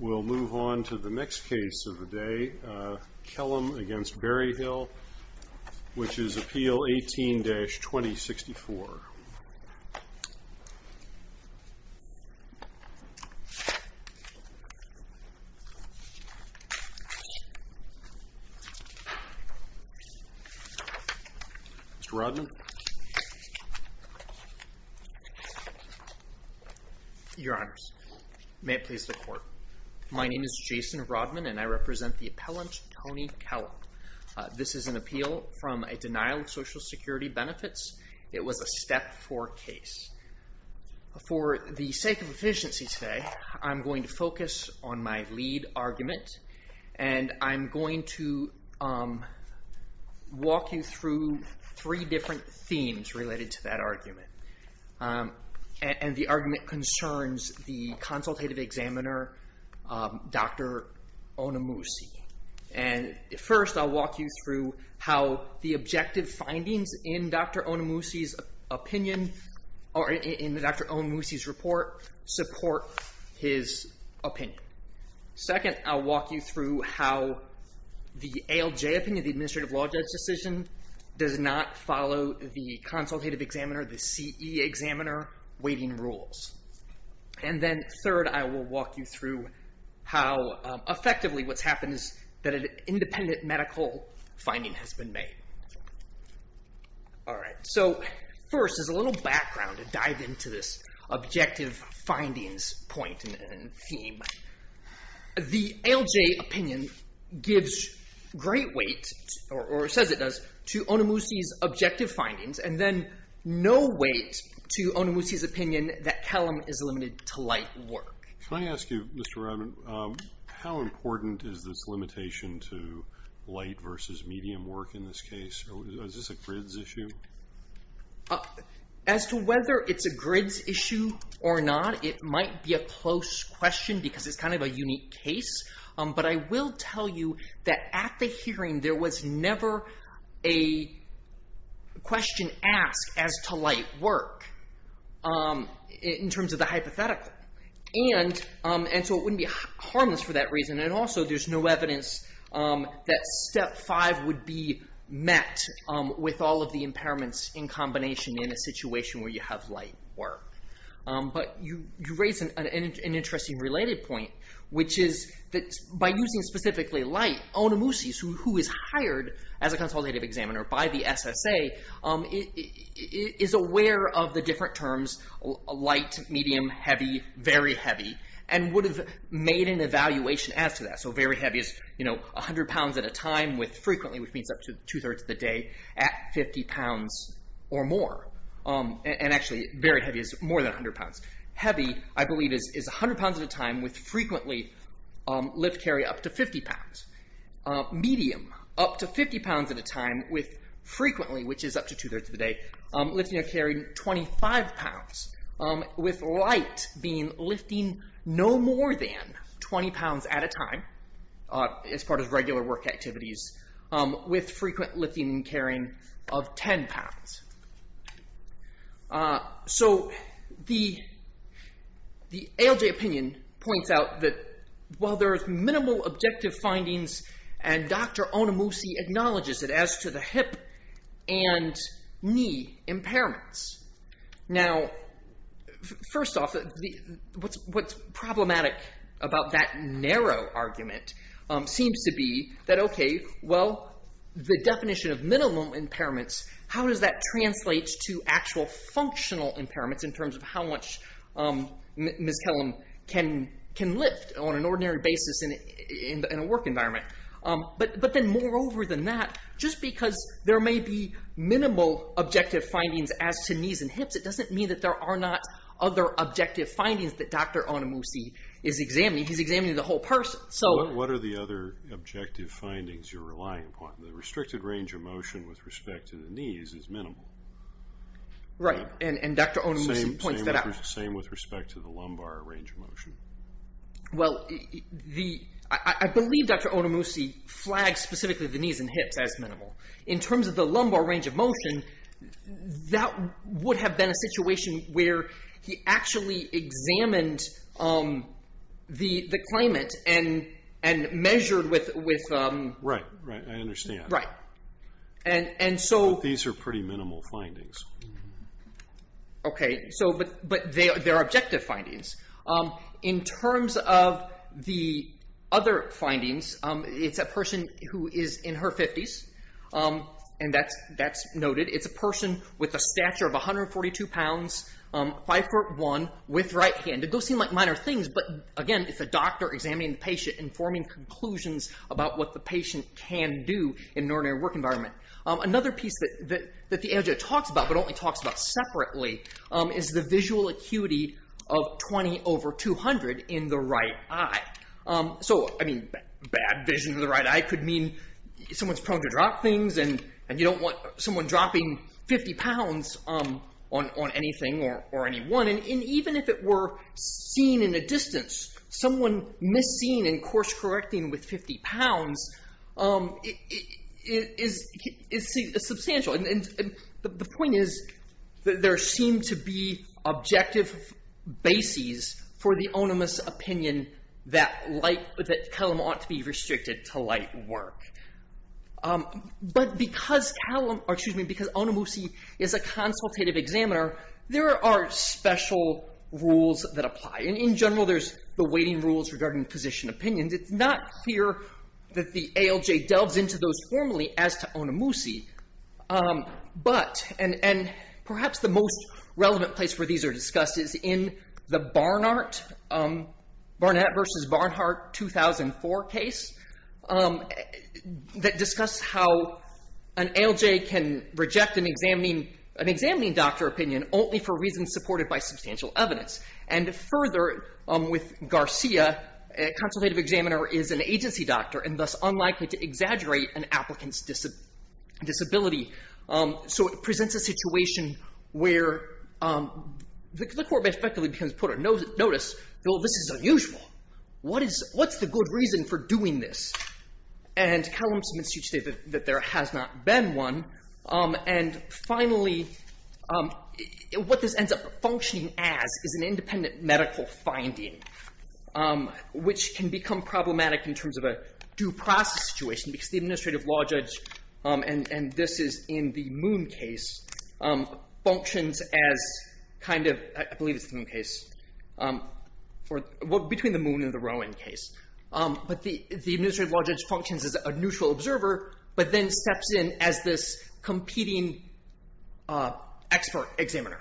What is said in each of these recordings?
We'll move on to the next case of the day, Kelham v. Berryhill, which is Appeal 18-2064. Mr. Rodman? Your Honors, may it please the Court. My name is Jason Rodman, and I represent the appellant, Tony Kelham. This is an appeal from a denial of Social Security benefits. It was a step four case. For the sake of efficiency today, I'm going to focus on my lead argument, and I'm going to walk you through three different cases. There are three different themes related to that argument, and the argument concerns the consultative examiner, Dr. Onomoushi. First, I'll walk you through how the objective findings in Dr. Onomoushi's opinion, or in Dr. Onomoushi's report, support his opinion. Second, I'll walk you through how the ALJ opinion, the Administrative Law Judge decision, does not follow the consultative examiner, the CE examiner, weighting rules. And then third, I will walk you through how effectively what's happened is that an independent medical finding has been made. All right. So first, as a little background to dive into this objective findings point and theme, the ALJ opinion gives great weight, or says it does, to Onomoushi's objective findings, and then no weight to Onomoushi's opinion that Kelham is limited to light work. Can I ask you, Mr. Robin, how important is this limitation to light versus medium work in this case? Is this a grids issue? As to whether it's a grids issue or not, it might be a close question because it's kind of a unique case, but I will tell you that at the hearing there was never a question asked as to light work in terms of the hypothetical. And so it wouldn't be harmless for that reason, and also there's no evidence that step five would be met with all of the impairments in combination in a situation where you have light work. But you raise an interesting related point, which is that by using specifically light, Onomoushi, who is hired as a consultative examiner by the SSA, is aware of the different terms light, medium, heavy, very heavy, and would have made an evaluation as to that. So very heavy is 100 pounds at a time with frequently, which means up to two-thirds of the day, at 50 pounds or more. And actually very heavy is more than 100 pounds. Heavy, I believe, is 100 pounds at a time with frequently lift carry up to 50 pounds. Medium, up to 50 pounds at a time with frequently, which is up to two-thirds of the day, lifting and carrying 25 pounds. With light being lifting no more than 20 pounds at a time as part of regular work activities with frequent lifting and carrying of 10 pounds. So the ALJ opinion points out that while there are minimal objective findings and Dr. Onomoushi acknowledges it as to the hip and knee impairments. Now, first off, what's problematic about that narrow argument seems to be that, okay, well, the definition of minimum impairments, how does that translate to actual functional impairments in terms of how much Ms. Kellum can lift on an ordinary basis in a work environment? But then moreover than that, just because there may be minimal objective findings as to knees and hips, it doesn't mean that there are not other objective findings that Dr. Onomoushi is examining. He's examining the whole person. What are the other objective findings you're relying upon? The restricted range of motion with respect to the knees is minimal. Right, and Dr. Onomoushi points that out. Same with respect to the lumbar range of motion. Well, I believe Dr. Onomoushi flags specifically the knees and hips as minimal. In terms of the lumbar range of motion, that would have been a situation where he actually examined the claimant and measured with… Right, right, I understand. Right, and so… These are pretty minimal findings. Okay, but they are objective findings. In terms of the other findings, it's a person who is in her 50s, and that's noted. It's a person with a stature of 142 pounds, 5'1", with right hand. Those seem like minor things, but again, it's a doctor examining the patient and forming conclusions about what the patient can do in an ordinary work environment. Another piece that the AOJ talks about, but only talks about separately, is the visual acuity of 20 over 200 in the right eye. So, I mean, bad vision in the right eye could mean someone's prone to drop things, and you don't want someone dropping 50 pounds on anything or anyone. And even if it were seen in a distance, someone missed seeing and course correcting with 50 pounds is substantial. The point is that there seem to be objective bases for the onimus opinion that Calum ought to be restricted to light work. But because Calum, or excuse me, because Onimusi is a consultative examiner, there are special rules that apply. And in general, there's the weighting rules regarding position opinions. It's not clear that the AOJ delves into those formally as to Onimusi. But, and perhaps the most relevant place where these are discussed is in the Barnart, Barnett v. Barnhart 2004 case, that discuss how an AOJ can reject an examining doctor opinion only for reasons supported by substantial evidence. And further, with Garcia, a consultative examiner is an agency doctor and thus unlikely to exaggerate an applicant's disability. So, it presents a situation where the court may effectively put a notice, well, this is unusual, what's the good reason for doing this? And Calum submits a statement that there has not been one. And finally, what this ends up functioning as is an independent medical finding, which can become problematic in terms of a due process situation, because the administrative law judge, and this is in the Moon case, functions as kind of, I believe it's the Moon case, between the Moon and the Rowan case. But the administrative law judge functions as a neutral observer, but then steps in as this competing expert examiner.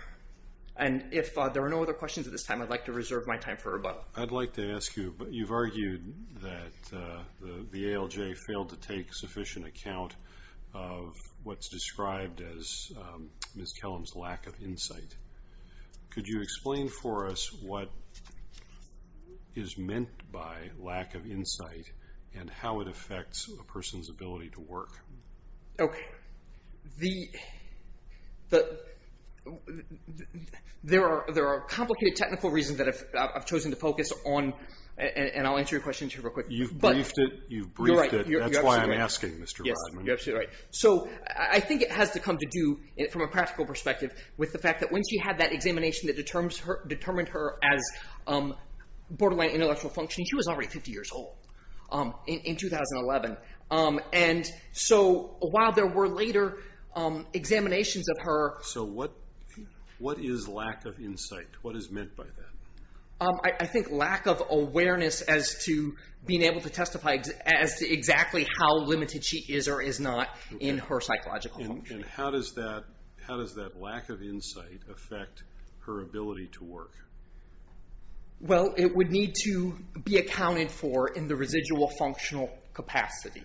And if there are no other questions at this time, I'd like to reserve my time for rebuttal. I'd like to ask you, you've argued that the AOJ failed to take sufficient account of what's described as Ms. Calum's lack of insight. Could you explain for us what is meant by lack of insight, and how it affects a person's ability to work? Okay, there are complicated technical reasons that I've chosen to focus on, and I'll answer your questions here real quick. You've briefed it, you've briefed it, that's why I'm asking, Mr. Rodman. You're absolutely right. So I think it has to come to do, from a practical perspective, with the fact that when she had that examination that determined her as borderline intellectual functioning, she was already 50 years old in 2011. And so while there were later examinations of her... So what is lack of insight? What is meant by that? I think lack of awareness as to being able to testify as to exactly how limited she is or is not in her psychological function. And how does that lack of insight affect her ability to work? Well, it would need to be accounted for in the residual functional capacity.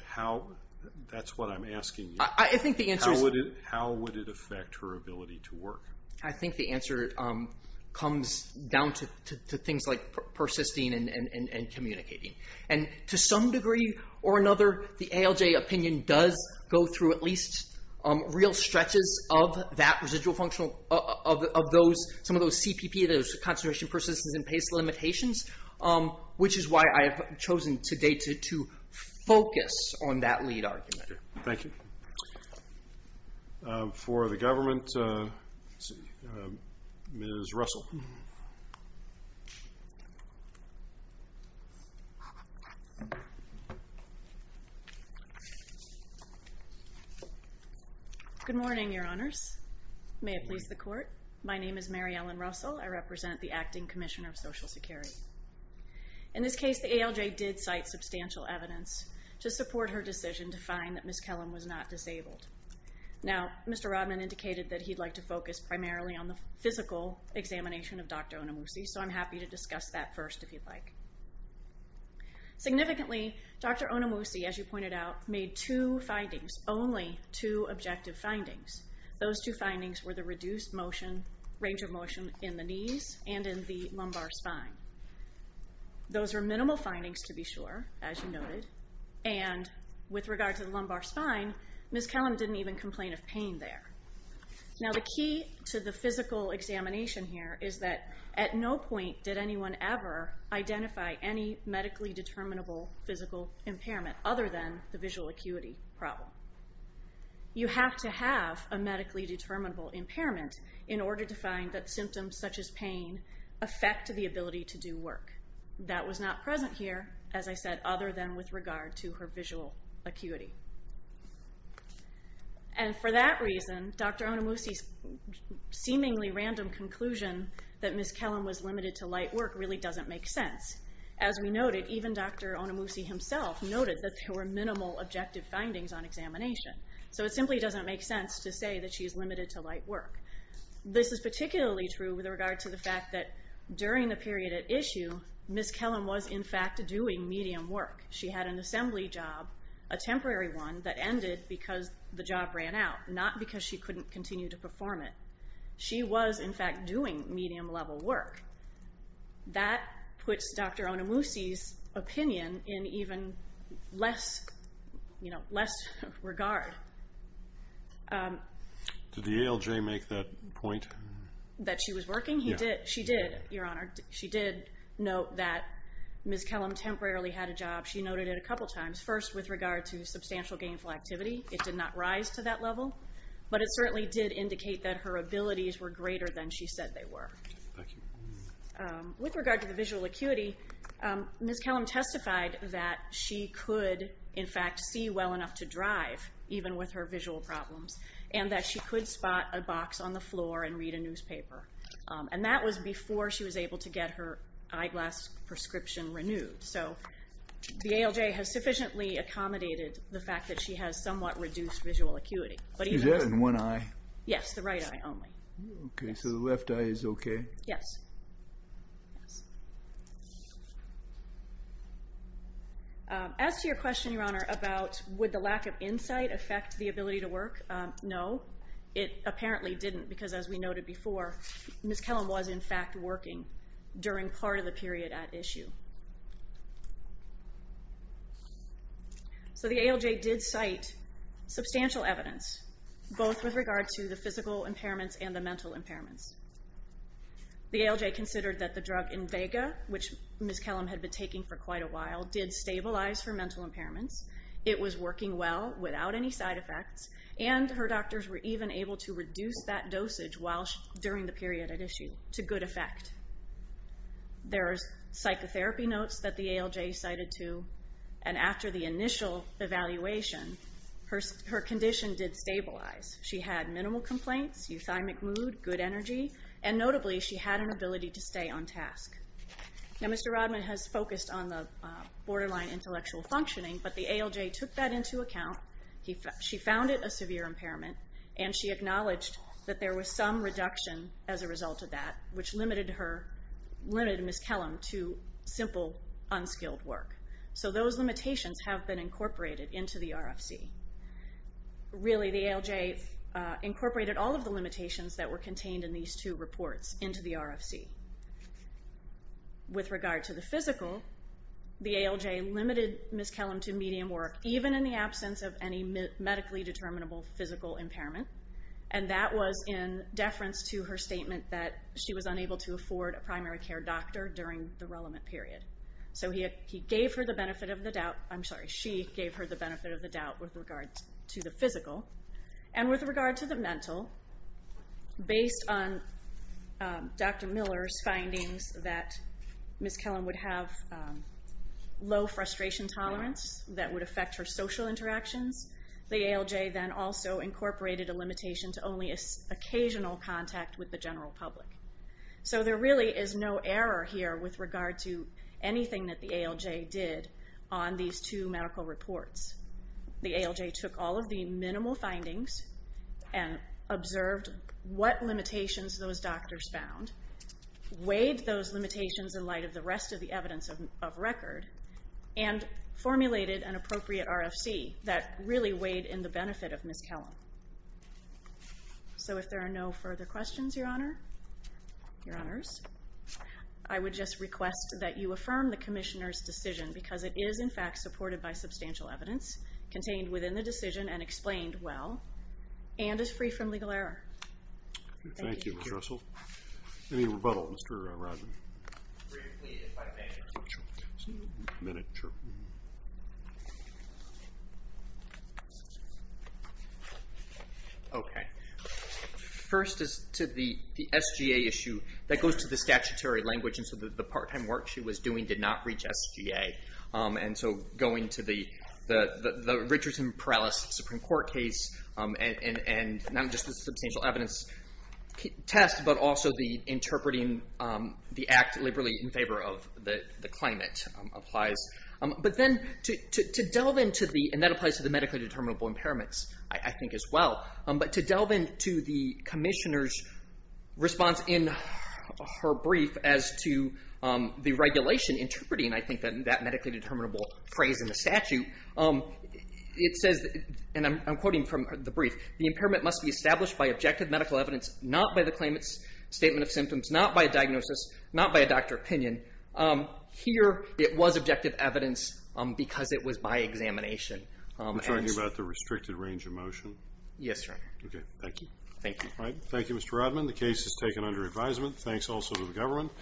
That's what I'm asking you. I think the answer is... How would it affect her ability to work? I think the answer comes down to things like persisting and communicating. And to some degree or another, the ALJ opinion does go through at least real stretches of that residual functional, of some of those CPP, those concentration, persistence, and pace limitations, which is why I have chosen today to focus on that lead argument. Thank you. For the government, Ms. Russell. Good morning, Your Honors. May it please the Court. My name is Mary Ellen Russell. I represent the Acting Commissioner of Social Security. In this case, the ALJ did cite substantial evidence to support her decision to find that Ms. Kellum was not disabled. Now, Mr. Rodman indicated that he'd like to focus primarily on the physical examination of Dr. Onomousi, so I'm happy to discuss that first if you'd like. Significantly, Dr. Onomousi, as you pointed out, made two findings, only two objective findings. Those two findings were the reduced range of motion in the knees and in the lumbar spine. Those are minimal findings, to be sure, as you noted. And with regard to the lumbar spine, Ms. Kellum didn't even complain of pain there. Now, the key to the physical examination here is that at no point did anyone ever identify any medically determinable physical impairment, other than the visual acuity problem. You have to have a medically determinable impairment in order to find that symptoms such as pain affect the ability to do work. That was not present here, as I said, other than with regard to her visual acuity. And for that reason, Dr. Onomousi's seemingly random conclusion that Ms. Kellum was limited to light work really doesn't make sense. As we noted, even Dr. Onomousi himself noted that there were minimal objective findings on examination. So it simply doesn't make sense to say that she's limited to light work. This is particularly true with regard to the fact that during the period at issue, Ms. Kellum was in fact doing medium work. She had an assembly job, a temporary one, that ended because the job ran out, not because she couldn't continue to perform it. She was in fact doing medium-level work. That puts Dr. Onomousi's opinion in even less regard. Did the ALJ make that point? That she was working? Yeah. She did, Your Honor. She did note that Ms. Kellum temporarily had a job. She noted it a couple times, first with regard to substantial gainful activity. It did not rise to that level, but it certainly did indicate that her abilities were greater than she said they were. With regard to the visual acuity, Ms. Kellum testified that she could in fact see well enough to drive, even with her visual problems, and that she could spot a box on the floor and read a newspaper. And that was before she was able to get her eyeglass prescription renewed. So the ALJ has sufficiently accommodated the fact that she has somewhat reduced visual acuity. Is that in one eye? Yes, the right eye only. Okay, so the left eye is okay? Yes. As to your question, Your Honor, about would the lack of insight affect the ability to work, no. It apparently didn't because, as we noted before, Ms. Kellum was in fact working during part of the period at issue. So the ALJ did cite substantial evidence, both with regard to the physical impairments and the mental impairments. The ALJ considered that the drug Invega, which Ms. Kellum had been taking for quite a while, did stabilize her mental impairments. It was working well without any side effects, and her doctors were even able to reduce that dosage during the period at issue to good effect. There are psychotherapy notes that the ALJ cited, too. And after the initial evaluation, her condition did stabilize. She had minimal complaints, euthymic mood, good energy, and notably she had an ability to stay on task. Now Mr. Rodman has focused on the borderline intellectual functioning, but the ALJ took that into account. She found it a severe impairment, and she acknowledged that there was some reduction as a result of that, which limited Ms. Kellum to simple, unskilled work. So those limitations have been incorporated into the RFC. Really, the ALJ incorporated all of the limitations that were contained in these two reports into the RFC. With regard to the physical, the ALJ limited Ms. Kellum to medium work, even in the absence of any medically determinable physical impairment. And that was in deference to her statement that she was unable to afford a primary care doctor during the relevant period. So he gave her the benefit of the doubt, I'm sorry, she gave her the benefit of the doubt with regard to the physical. And with regard to the mental, based on Dr. Miller's findings that Ms. Kellum would have low frustration tolerance that would affect her social interactions, the ALJ then also incorporated a limitation to only occasional contact with the general public. So there really is no error here with regard to anything that the ALJ did on these two medical reports. The ALJ took all of the minimal findings and observed what limitations those doctors found, weighed those limitations in light of the rest of the evidence of record, and formulated an appropriate RFC that really weighed in the benefit of Ms. Kellum. So if there are no further questions, Your Honors, I would just request that you affirm the Commissioner's decision, because it is in fact supported by substantial evidence, contained within the decision and explained well, and is free from legal error. Thank you, Ms. Russell. Any rebuttal, Mr. Rodman? Briefly, if I may. Okay. First is to the SGA issue. That goes to the statutory language, and so the part-time work she was doing did not reach SGA. And so going to the Richardson Perales Supreme Court case, and not just the substantial evidence test, but also the interpreting the act liberally in favor of the claimant applies. But then to delve into the, and that applies to the medically determinable impairments, I think as well, but to delve into the Commissioner's response in her brief as to the regulation interpreting, I think, that medically determinable phrase in the statute, it says, and I'm quoting from the brief, the impairment must be established by objective medical evidence, not by the claimant's statement of symptoms, not by a diagnosis, not by a doctor opinion. Here, it was objective evidence because it was by examination. Are you talking about the restricted range of motion? Yes, Your Honor. Okay. Thank you. Thank you. Thank you, Mr. Rodman. The case is taken under advisement. Thanks also to the government.